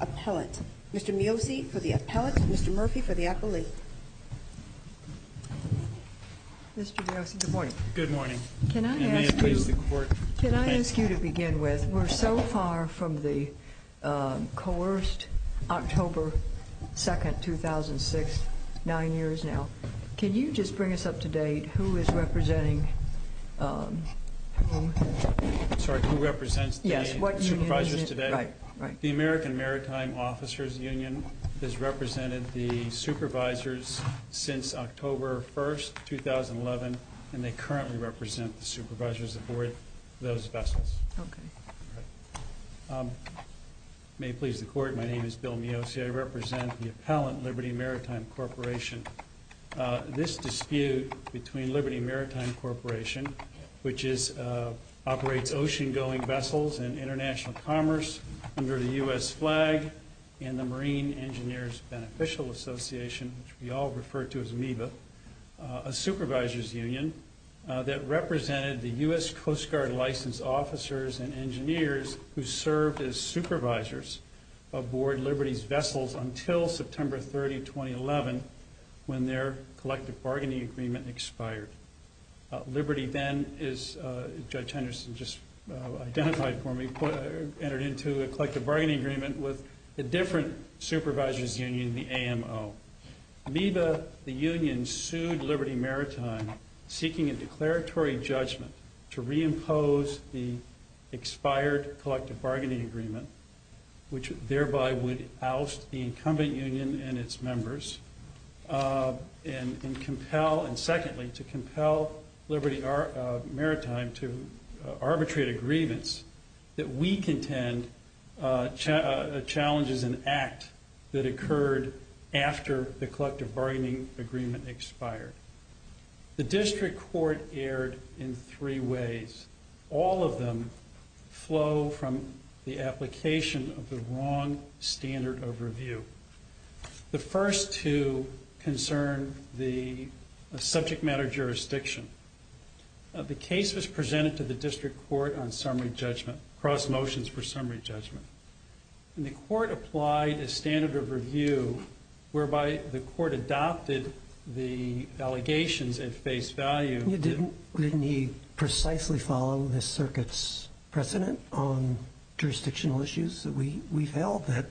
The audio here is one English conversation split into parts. Appellant. Mr. Miosi for the appellant, Mr. Murphy for the appellate. Mr. Miosi, good morning. Good morning. Can I ask you to begin with? We're so far from the coerced October 2, 2006, nine years now. Can you just bring us up to date who is representing whom? Sorry, who represents the supervisors today? The American Maritime Officers Union has represented the supervisors since October 1, 2011, and they currently represent the May it please the Court, my name is Bill Miosi. I represent the appellant, Liberty Maritime Corporation. This dispute between Liberty Maritime Corporation, which operates ocean-going vessels and international commerce under the U.S. flag, and the Marine Engineers Beneficial Association, which we all refer to as MEBA, a supervisors union that represented the U.S. supervisors aboard Liberty's vessels until September 30, 2011, when their collective bargaining agreement expired. Liberty then, as Judge Henderson just identified for me, entered into a collective bargaining agreement with a different supervisors union, the AMO. MEBA, the union, sued Liberty Maritime, seeking a declaratory judgment to reimpose the expired collective bargaining agreement, which thereby would oust the incumbent union and its members, and secondly, to compel Liberty Maritime to arbitrate agreements that we contend challenges an act that occurred after the collective bargaining agreement expired. The district court erred in three ways. All of them flow from the application of the wrong standard of review. The first two concern the subject matter jurisdiction. The case was presented to the district court on summary judgment, cross motions for summary judgment, and the Didn't he precisely follow the circuit's precedent on jurisdictional issues that we've held, that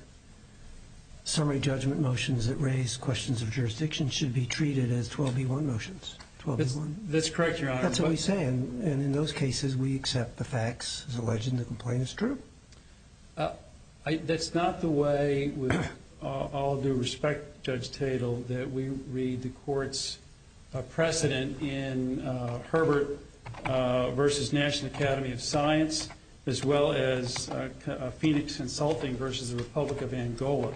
summary judgment motions that raise questions of jurisdiction should be treated as 12b1 motions? That's correct, Your Honor. That's what he's saying. And in those cases, we accept the facts as alleged in the complaint. It's true? That's not the way, with all due respect, Judge Tatel, that we read the court's precedent in Herbert v. National Academy of Science, as well as Phoenix Consulting v. The Republic of Angola,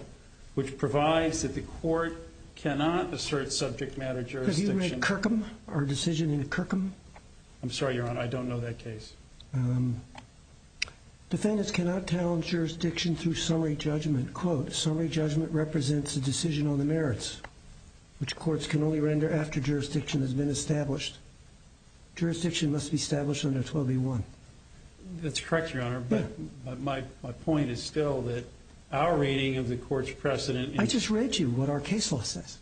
which provides that the court cannot assert subject matter jurisdiction. Have you read Kirkham, our decision in Kirkham? I'm sorry, Your Honor, I don't know that case. Defendants cannot challenge jurisdiction through summary judgment. Quote, summary judgment represents a decision on the merits, which courts can only render after jurisdiction has been established. Jurisdiction must be established under 12b1. That's correct, Your Honor, but my point is still that our reading of the court's precedent I just read you what our case law says.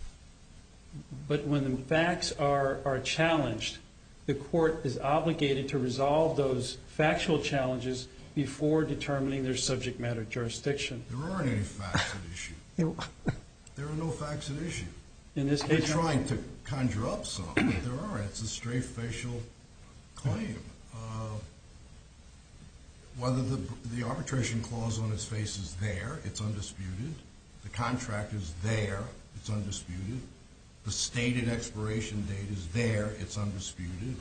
But when the facts are challenged, the court is obligated to resolve those factual challenges before determining their subject matter jurisdiction. There aren't any facts at issue. There are no facts at issue. We're trying to conjure up some, but there aren't. It's a stray facial claim. Whether the arbitration clause on its face is there, it's undisputed. The contract is there, it's undisputed. The stated expiration date is there, it's undisputed.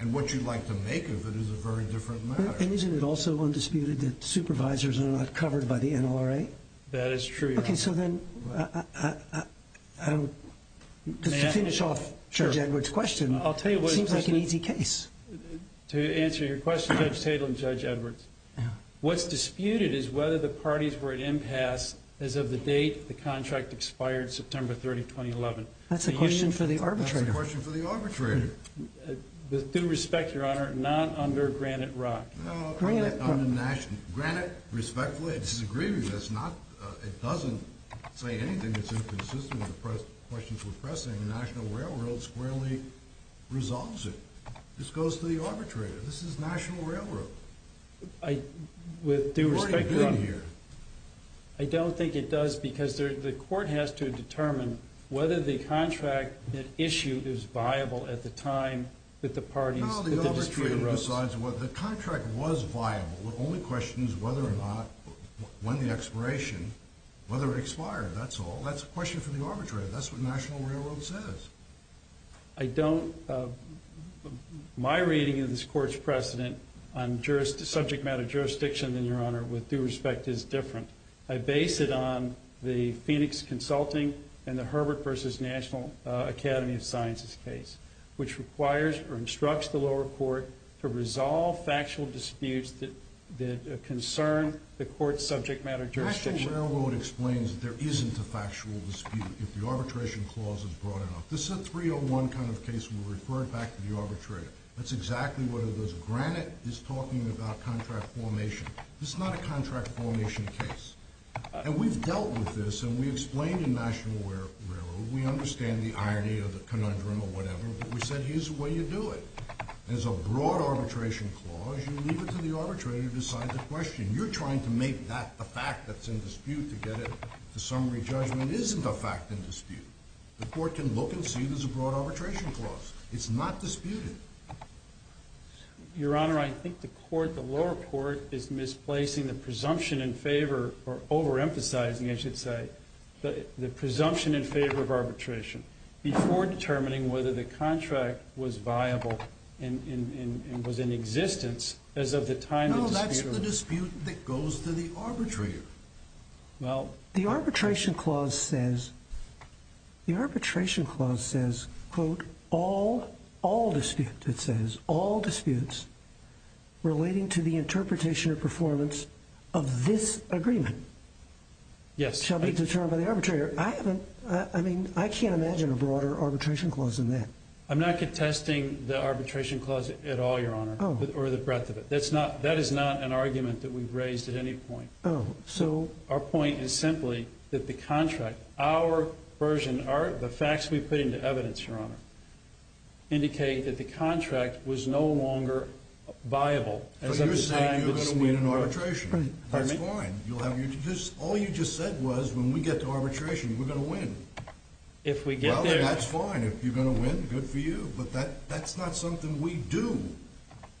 And what you'd like to make of it is a very different matter. And isn't it also undisputed that supervisors are not covered by the NLRA? That is true, Your Honor. Okay, so then, to finish off Judge Edwards' question, it seems like an easy case. To answer your question, Judge Tatel and Judge Edwards, what's disputed is whether the parties were at impasse as of the date the contract expired, September 30, 2011. That's a question for the arbitrator. That's a question for the arbitrator. With due respect, Your Honor, not under Granite Rock. No, under National. Granite, respectfully, it's a grievance. It doesn't say anything that's inconsistent with the questions we're pressing. National Railroad squarely resolves it. This goes to the arbitrator. This is National Railroad. With due respect, Your Honor, I don't think it does because the court has to determine whether the contract that issued is viable at the time that the parties, that the district arose. No, the arbitrator decides whether the contract was viable. The only question is whether or not, when the expiration, whether it expired. That's all. That's a question for the arbitrator. That's what National Railroad says. My reading of this court's precedent on subject matter jurisdiction, then, Your Honor, with due respect, is different. I base it on the Phoenix Consulting and the Herbert v. National Academy of Sciences case, which requires or instructs the lower court to resolve factual disputes that concern the court's subject matter jurisdiction. National Railroad explains that there isn't a factual dispute if the arbitration clause is brought in. This is a 301 kind of case. We refer it back to the arbitrator. That's exactly what it is. Granite is talking about contract formation. This is not a contract formation case. And we've dealt with this, and we explained in National Railroad. We understand the irony of the conundrum or whatever, but we said here's the way you do it. There's a broad arbitration clause. You leave it to the arbitrator to decide the question. You're trying to make that the fact that's in dispute to get it to summary judgment isn't a fact in dispute. The court can look and see there's a broad arbitration clause. It's not disputed. Your Honor, I think the lower court is misplacing the presumption in favor or overemphasizing, I should say, the presumption in favor of arbitration before determining whether the contract was viable and was in existence as of the time the dispute arose. No, that's the dispute that goes to the arbitrator. The arbitration clause says, quote, all disputes relating to the interpretation or performance of this agreement shall be determined by the arbitrator. I can't imagine a broader arbitration clause than that. I'm not contesting the arbitration clause at all, Your Honor, or the breadth of it. That is not an argument that we've raised at any point. Oh, so? Our point is simply that the contract, our version, the facts we put into evidence, Your Honor, indicate that the contract was no longer viable as of the time the dispute arose. But you're saying you're going to win an arbitration. Pardon me? That's fine. All you just said was when we get to arbitration, we're going to win. If we get there. Well, then that's fine. If you're going to win, good for you. But that's not something we do.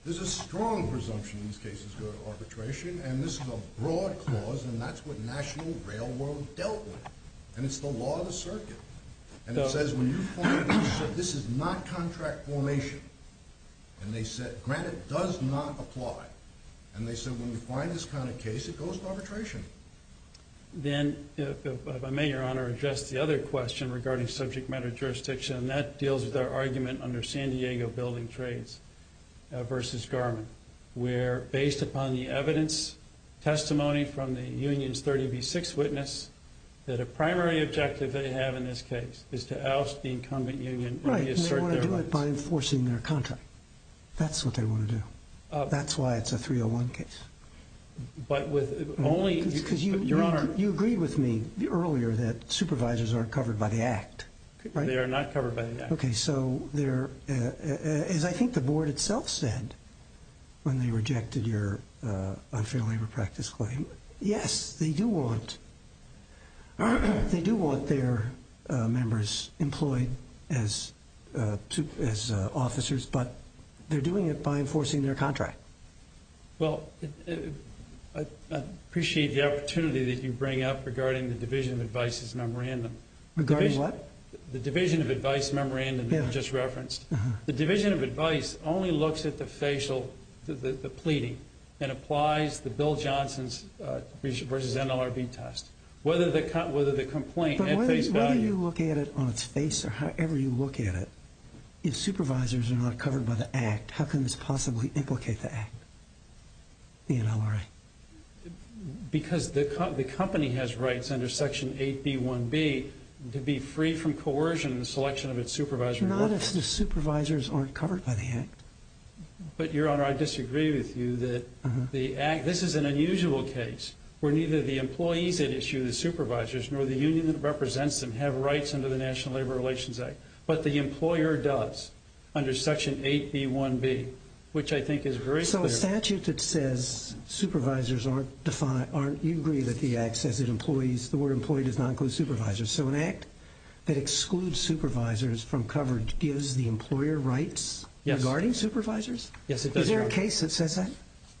There's a strong presumption these cases go to arbitration, and this is a broad clause, and that's what National Railroad dealt with. And it's the law of the circuit. And it says when you find it, this is not contract formation. And they said, granted, it does not apply. And they said when we find this kind of case, it goes to arbitration. Then, if I may, Your Honor, address the other question regarding subject matter jurisdiction, and that deals with our argument under San Diego Building Trades versus Garmin, where based upon the evidence, testimony from the union's 30B6 witness, that a primary objective they have in this case is to oust the incumbent union and reassert their rights. Right, and they want to do it by enforcing their contract. That's what they want to do. That's why it's a 301 case. But with only— Because you agreed with me earlier that supervisors aren't covered by the Act, right? They are not covered by the Act. Okay, so as I think the board itself said when they rejected your unfair labor practice claim, yes, they do want their members employed as officers, but they're doing it by enforcing their contract. Well, I appreciate the opportunity that you bring up regarding the Division of Advice's memorandum. Regarding what? The Division of Advice memorandum that you just referenced. The Division of Advice only looks at the facial, the pleading, and applies the Bill Johnson's versus NLRB test. Whether the complaint had face value— If supervisors are not covered by the Act, how can this possibly implicate the Act, the NLRA? Because the company has rights under Section 8B1B to be free from coercion in the selection of its supervisors. Not if the supervisors aren't covered by the Act. But, Your Honor, I disagree with you that the Act—this is an unusual case where neither the employees that issue the supervisors nor the union that represents them have rights under the National Labor Relations Act. But the employer does under Section 8B1B, which I think is very clear. So a statute that says supervisors aren't defined, aren't—you agree that the Act says that employees—the word employee does not include supervisors. So an Act that excludes supervisors from coverage gives the employer rights regarding supervisors? Yes, it does, Your Honor. Is there a case that says that?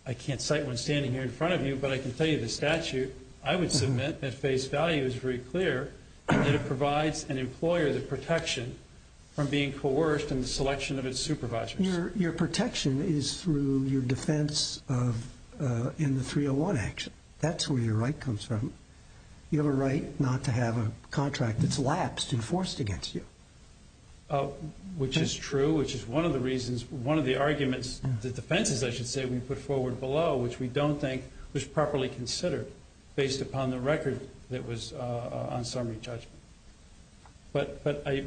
I can't cite one standing here in front of you, but I can tell you the statute I would submit at face value is very clear that it provides an employer the protection from being coerced in the selection of its supervisors. Your protection is through your defense in the 301 action. That's where your right comes from. You have a right not to have a contract that's lapsed and forced against you. Which is true, which is one of the reasons—one of the arguments—the defenses, I should say, we put forward below, which we don't think was properly considered based upon the record that was on summary judgment. But I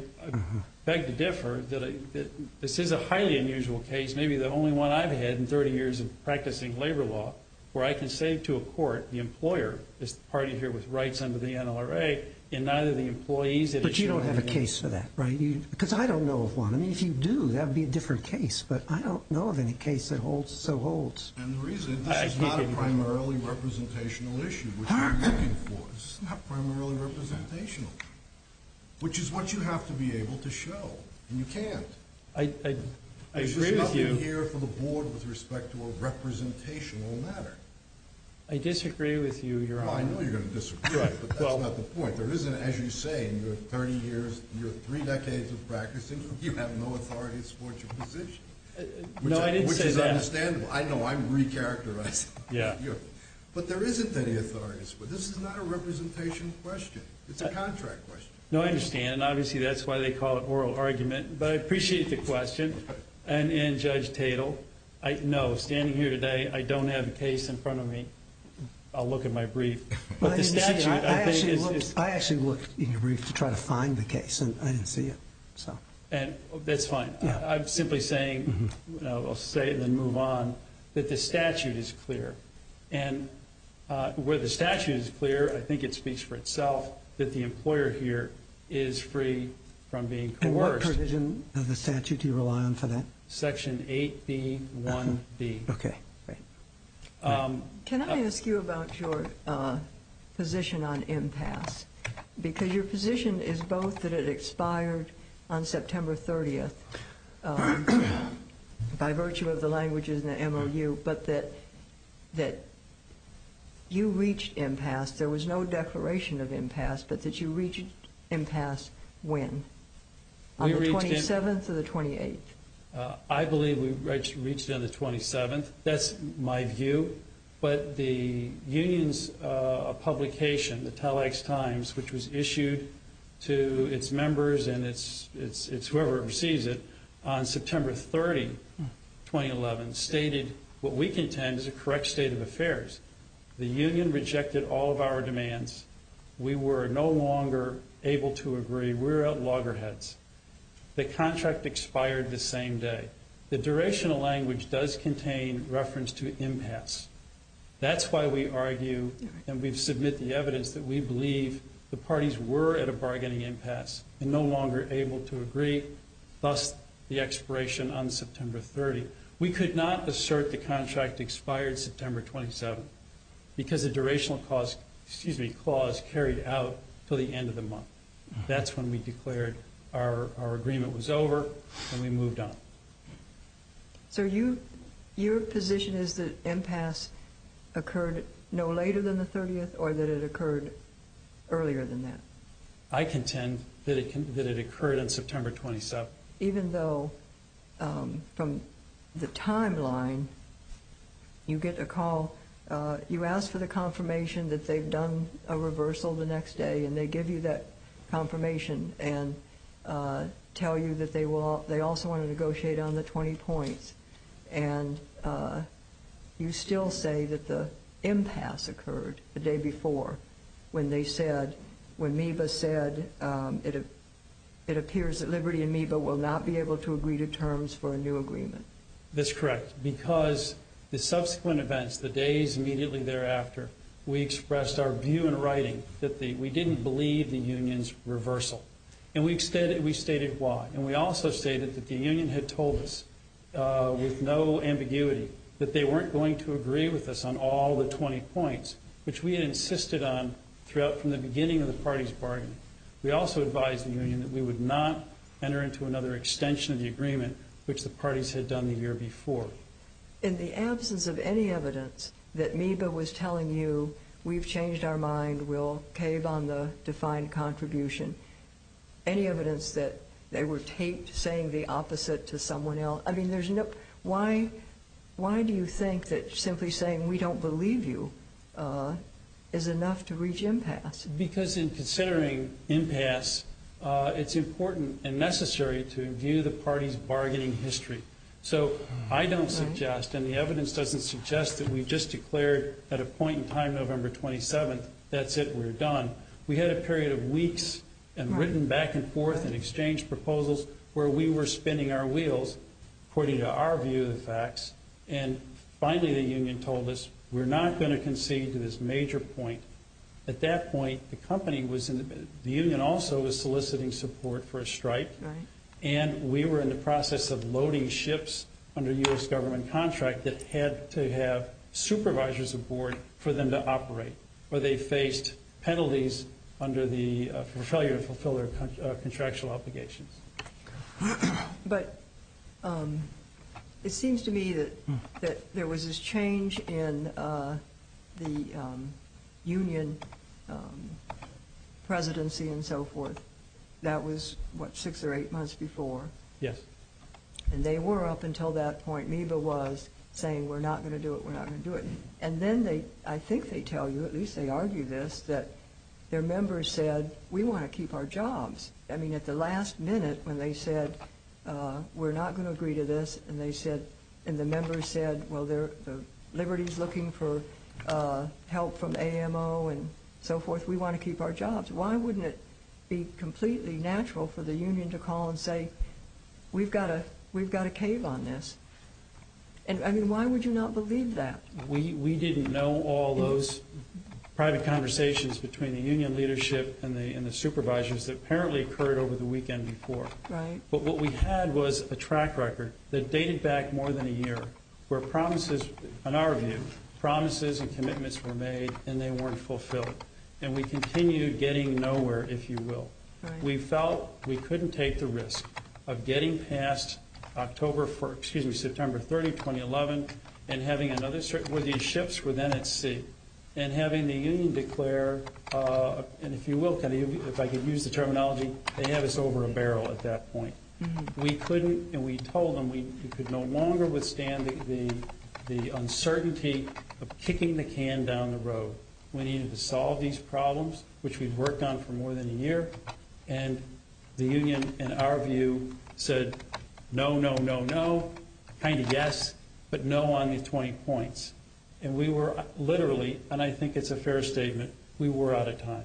beg to differ that this is a highly unusual case, maybe the only one I've had in 30 years of practicing labor law, where I can say to a court, the employer is the party here with rights under the NLRA, and neither the employees— But you don't have a case for that, right? Because I don't know of one. I mean, if you do, that would be a different case, but I don't know of any case that so holds. And the reason—this is not a primarily representational issue, which we're looking for. This is not primarily representational, which is what you have to be able to show, and you can't. I agree with you. I'm here for the board with respect to a representational matter. I disagree with you, Your Honor. I know you're going to disagree, but that's not the point. There isn't, as you say, in your 30 years, your three decades of practicing, you have no authority to support your position. No, I didn't say that. Which is understandable. I know I'm recharacterizing. But there isn't any authority. This is not a representation question. It's a contract question. No, I understand, and obviously that's why they call it oral argument. But I appreciate the question, and Judge Tatel. No, standing here today, I don't have a case in front of me. I'll look at my brief. I actually looked in your brief to try to find the case, and I didn't see it. That's fine. I'm simply saying—I'll say it and then move on—that the statute is clear. And where the statute is clear, I think it speaks for itself that the employer here is free from being coerced. What provision of the statute do you rely on for that? Section 8B1B. Okay. Can I ask you about your position on impasse? Because your position is both that it expired on September 30th by virtue of the languages in the MOU, but that you reached impasse. There was no declaration of impasse, but that you reached impasse when? On the 27th or the 28th? I believe we reached it on the 27th. That's my view. But the union's publication, the Telex Times, which was issued to its members and whoever receives it, on September 30, 2011, stated what we contend is a correct state of affairs. The union rejected all of our demands. We were no longer able to agree. We were at loggerheads. The contract expired the same day. The durational language does contain reference to impasse. That's why we argue and we submit the evidence that we believe the parties were at a bargaining impasse and no longer able to agree, thus the expiration on September 30. We could not assert the contract expired September 27 because the durational clause carried out until the end of the month. That's when we declared our agreement was over and we moved on. So your position is that impasse occurred no later than the 30th or that it occurred earlier than that? I contend that it occurred on September 27. Even though from the timeline you get a call, you ask for the confirmation that they've done a reversal the next day and they give you that confirmation and tell you that they also want to negotiate on the 20 points, and you still say that the impasse occurred the day before when they said, it appears that Liberty and MEBA will not be able to agree to terms for a new agreement. That's correct because the subsequent events, the days immediately thereafter, we expressed our view in writing that we didn't believe the union's reversal. And we stated why. And we also stated that the union had told us with no ambiguity that they weren't going to agree with us on all the 20 points, which we had insisted on from the beginning of the party's bargain. We also advised the union that we would not enter into another extension of the agreement, which the parties had done the year before. In the absence of any evidence that MEBA was telling you, we've changed our mind, we'll cave on the defined contribution, any evidence that they were taped saying the opposite to someone else, why do you think that simply saying we don't believe you is enough to reach impasse? Because in considering impasse, it's important and necessary to review the party's bargaining history. So I don't suggest, and the evidence doesn't suggest that we just declared at a point in time November 27th, that's it, we're done. We had a period of weeks and written back and forth and exchanged proposals where we were spinning our wheels, according to our view of the facts, and finally the union told us we're not going to concede to this major point. At that point, the company was in the, the union also was soliciting support for a strike. And we were in the process of loading ships under U.S. government contract that had to have supervisors aboard for them to operate. Or they faced penalties under the failure to fulfill their contractual obligations. But it seems to me that there was this change in the union presidency and so forth. That was what, six or eight months before? Yes. And they were up until that point, MEBA was, saying we're not going to do it, we're not going to do it. And then they, I think they tell you, at least they argue this, that their members said, we want to keep our jobs. I mean, at the last minute when they said, we're not going to agree to this, and they said, and the members said, well, Liberty's looking for help from AMO and so forth, we want to keep our jobs. Why wouldn't it be completely natural for the union to call and say, we've got a, we've got a cave on this? And I mean, why would you not believe that? We didn't know all those private conversations between the union leadership and the supervisors that apparently occurred over the weekend before. But what we had was a track record that dated back more than a year where promises, in our view, promises and commitments were made and they weren't fulfilled. And we continued getting nowhere, if you will. We felt we couldn't take the risk of getting past October, excuse me, September 30, 2011, and having another, where these ships were then at sea, and having the union declare, and if you will, if I could use the terminology, they had us over a barrel at that point. We couldn't, and we told them we could no longer withstand the uncertainty of kicking the can down the road. We needed to solve these problems, which we'd worked on for more than a year, and the union, in our view, said no, no, no, no, kind of yes, but no on the 20 points. And we were literally, and I think it's a fair statement, we were out of time,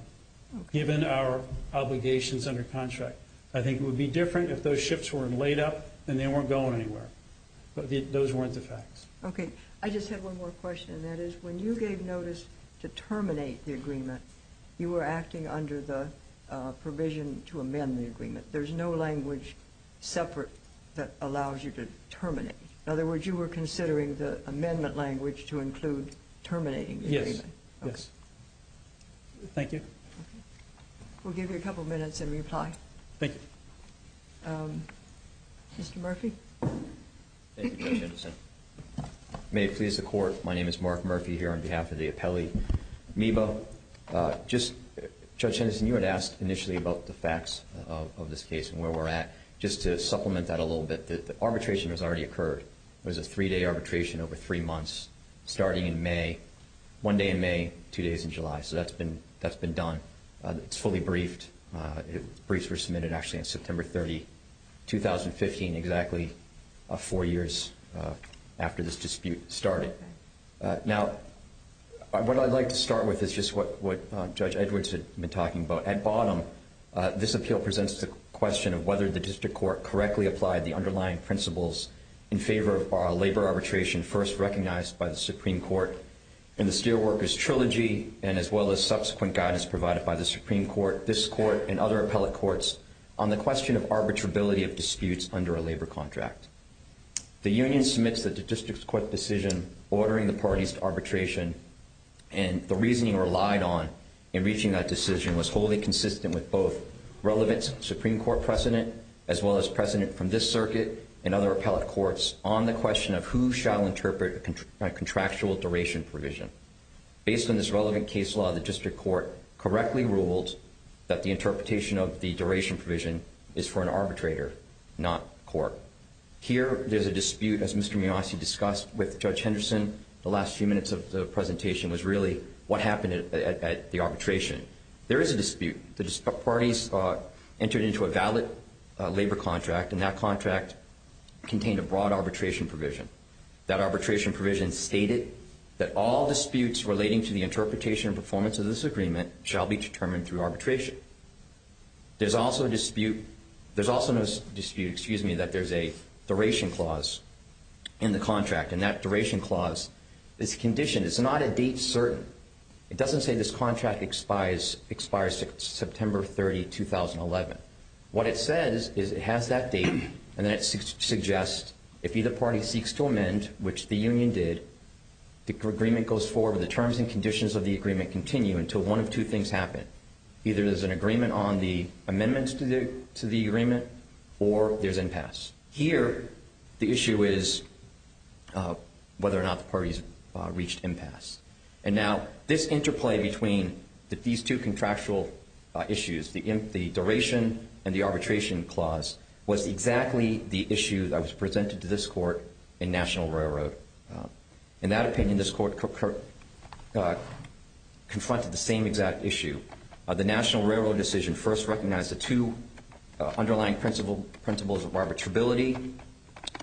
given our obligations under contract. I think it would be different if those ships weren't laid up and they weren't going anywhere. But those weren't the facts. Okay, I just have one more question, and that is when you gave notice to terminate the agreement, you were acting under the provision to amend the agreement. There's no language separate that allows you to terminate. In other words, you were considering the amendment language to include terminating the agreement. Yes, yes. Thank you. We'll give you a couple of minutes in reply. Thank you. Mr. Murphy. Thank you, Judge Henderson. May it please the Court, my name is Mark Murphy here on behalf of the appellee, Meebo. Judge Henderson, you had asked initially about the facts of this case and where we're at. Just to supplement that a little bit, the arbitration has already occurred. It was a three-day arbitration over three months, starting in May, one day in May, two days in July. So that's been done. It's fully briefed. Briefs were submitted actually on September 30, 2015, exactly four years after this dispute started. Now, what I'd like to start with is just what Judge Edwards had been talking about. At bottom, this appeal presents the question of whether the district court correctly applied the underlying principles in favor of labor arbitration first recognized by the Supreme Court in the Steelworkers Trilogy and as well as subsequent guidance provided by the Supreme Court. This court and other appellate courts on the question of arbitrability of disputes under a labor contract. The union submits the district court decision ordering the parties to arbitration, and the reasoning relied on in reaching that decision was wholly consistent with both relevant Supreme Court precedent as well as precedent from this circuit and other appellate courts on the question of who shall interpret a contractual duration provision. Based on this relevant case law, the district court correctly ruled that the interpretation of the duration provision is for an arbitrator, not court. Here, there's a dispute, as Mr. Miasi discussed with Judge Henderson, the last few minutes of the presentation was really what happened at the arbitration. There is a dispute. The parties entered into a valid labor contract, and that contract contained a broad arbitration provision. That arbitration provision stated that all disputes relating to the interpretation and performance of this agreement shall be determined through arbitration. There's also a dispute, excuse me, that there's a duration clause in the contract, and that duration clause is conditioned. It's not a date certain. It doesn't say this contract expires September 30, 2011. What it says is it has that date, and then it suggests if either party seeks to amend, which the union did, the agreement goes forward, the terms and conditions of the agreement continue until one of two things happen. Either there's an agreement on the amendments to the agreement, or there's impasse. Here, the issue is whether or not the parties reached impasse. Now, this interplay between these two contractual issues, the duration and the arbitration clause, was exactly the issue that was presented to this court in National Railroad. In that opinion, this court confronted the same exact issue. The National Railroad decision first recognized the two underlying principles of arbitrability,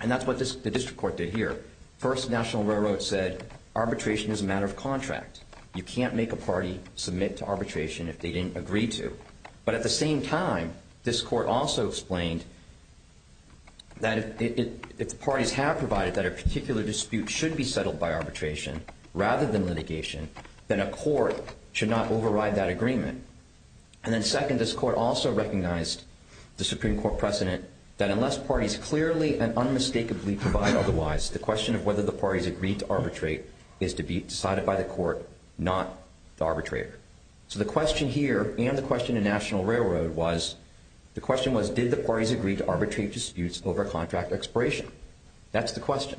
and that's what the district court did here. First, National Railroad said arbitration is a matter of contract. You can't make a party submit to arbitration if they didn't agree to. But at the same time, this court also explained that if the parties have provided that a particular dispute should be settled by arbitration rather than litigation, then a court should not override that agreement. And then second, this court also recognized the Supreme Court precedent that unless parties clearly and unmistakably provide otherwise, the question of whether the parties agreed to arbitrate is to be decided by the court, not the arbitrator. So the question here and the question in National Railroad was, the question was did the parties agree to arbitrate disputes over contract expiration? That's the question.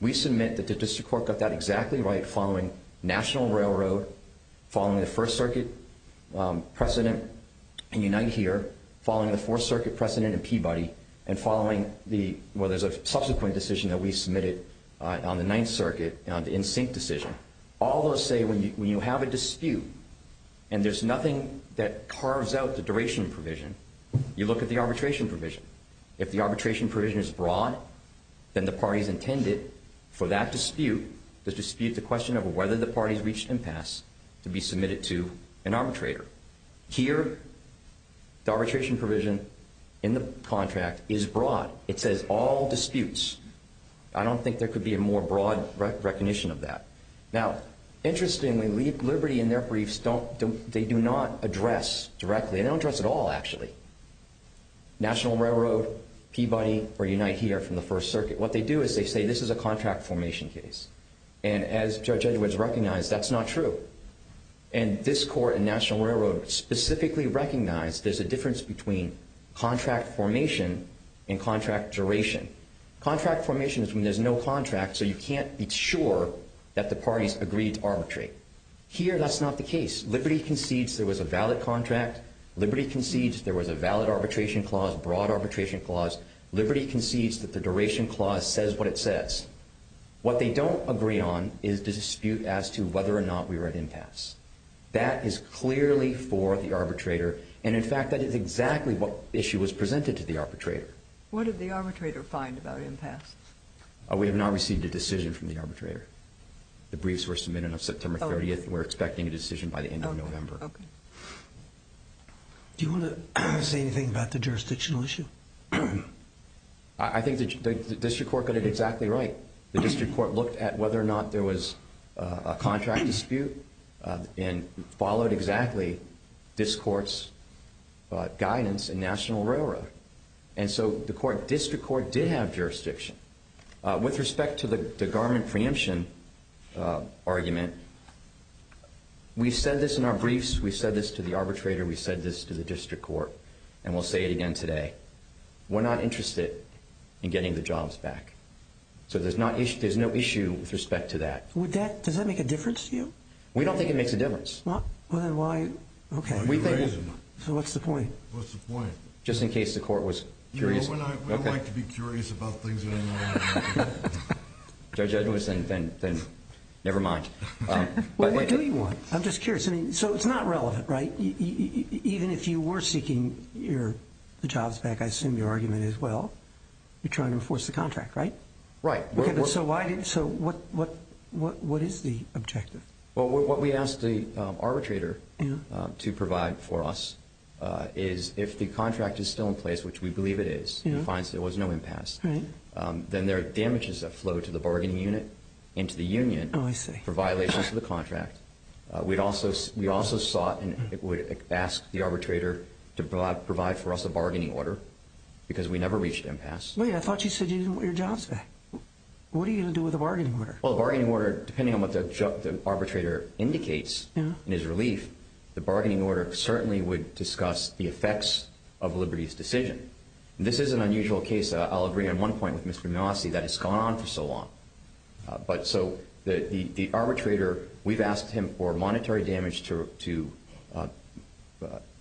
We submit that the district court got that exactly right following National Railroad, following the First Circuit precedent in Unite Here, following the Fourth Circuit precedent in Peabody, and following the subsequent decision that we submitted on the Ninth Circuit, the NSYNC decision. All those say when you have a dispute and there's nothing that carves out the duration provision, you look at the arbitration provision. If the arbitration provision is broad, then the parties intended for that dispute, the dispute, the question of whether the parties reached impasse, to be submitted to an arbitrator. Here, the arbitration provision in the contract is broad. It says all disputes. I don't think there could be a more broad recognition of that. Now, interestingly, Liberty in their briefs, they do not address directly. They don't address at all, actually. National Railroad, Peabody, or Unite Here from the First Circuit, what they do is they say this is a contract formation case. And as Judge Edwards recognized, that's not true. And this court in National Railroad specifically recognized there's a difference between contract formation and contract duration. Contract formation is when there's no contract, so you can't be sure that the parties agreed to arbitrate. Here, that's not the case. Liberty concedes there was a valid contract. Liberty concedes there was a valid arbitration clause, broad arbitration clause. Liberty concedes that the duration clause says what it says. What they don't agree on is the dispute as to whether or not we were at impasse. That is clearly for the arbitrator. And, in fact, that is exactly what issue was presented to the arbitrator. What did the arbitrator find about impasse? We have not received a decision from the arbitrator. The briefs were submitted on September 30th. We're expecting a decision by the end of November. Okay. Do you want to say anything about the jurisdictional issue? I think the district court got it exactly right. The district court looked at whether or not there was a contract dispute and followed exactly this court's guidance in National Railroad. And so the district court did have jurisdiction. With respect to the garment preemption argument, we've said this in our briefs, we've said this to the arbitrator, we've said this to the district court, and we'll say it again today. We're not interested in getting the jobs back. So there's no issue with respect to that. Does that make a difference to you? We don't think it makes a difference. Well, then why? Okay. So what's the point? What's the point? Just in case the court was curious. We like to be curious about things. Judge Edwards, then never mind. What do you want? I'm just curious. So it's not relevant, right? Even if you were seeking the jobs back, I assume your argument is, well, you're trying to enforce the contract, right? Right. So what is the objective? Well, what we asked the arbitrator to provide for us is if the contract is still in place, which we believe it is, he finds there was no impasse, then there are damages that flow to the bargaining unit and to the union for violations to the contract. We also sought and asked the arbitrator to provide for us a bargaining order because we never reached impasse. Wait, I thought you said you didn't want your jobs back. What are you going to do with the bargaining order? Well, the bargaining order, depending on what the arbitrator indicates in his relief, the bargaining order certainly would discuss the effects of Liberty's decision. This is an unusual case. I'll agree on one point with Mr. Nassi that it's gone on for so long. But so the arbitrator, we've asked him for monetary damage to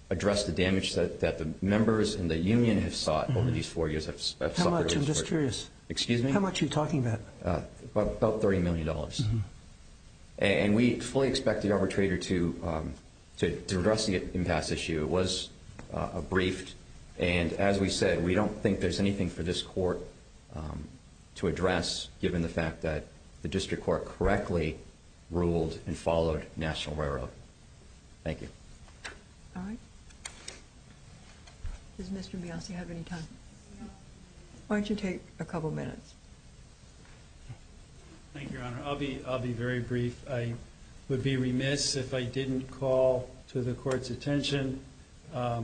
address the damage that the members and the union have sought over these four years. I'm just curious. Excuse me? How much are you talking about? About $30 million. And we fully expect the arbitrator to address the impasse issue. It was briefed. And as we said, we don't think there's anything for this court to address, given the fact that the district court correctly ruled and followed National Railroad. Thank you. All right. Does Mr. Nassi have any time? Why don't you take a couple minutes? Thank you, Your Honor. I'll be very brief. I would be remiss if I didn't call to the court's attention at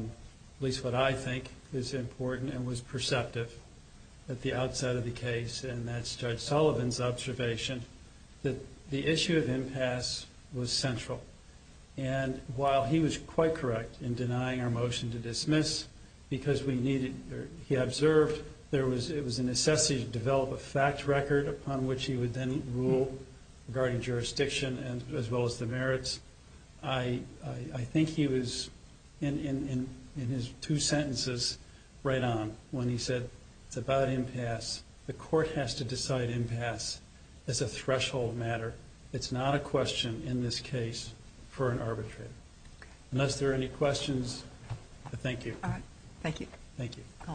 least what I think is important and was perceptive at the outside of the case, and that's Judge Sullivan's observation, that the issue of impasse was central. And while he was quite correct in denying our motion to dismiss because we needed or he observed there was a necessity to develop a fact record upon which he would then rule regarding jurisdiction as well as the merits, I think he was in his two sentences right on when he said it's about impasse. The court has to decide impasse as a threshold matter. It's not a question in this case for an arbitrator. Unless there are any questions, I thank you. All right. Thank you.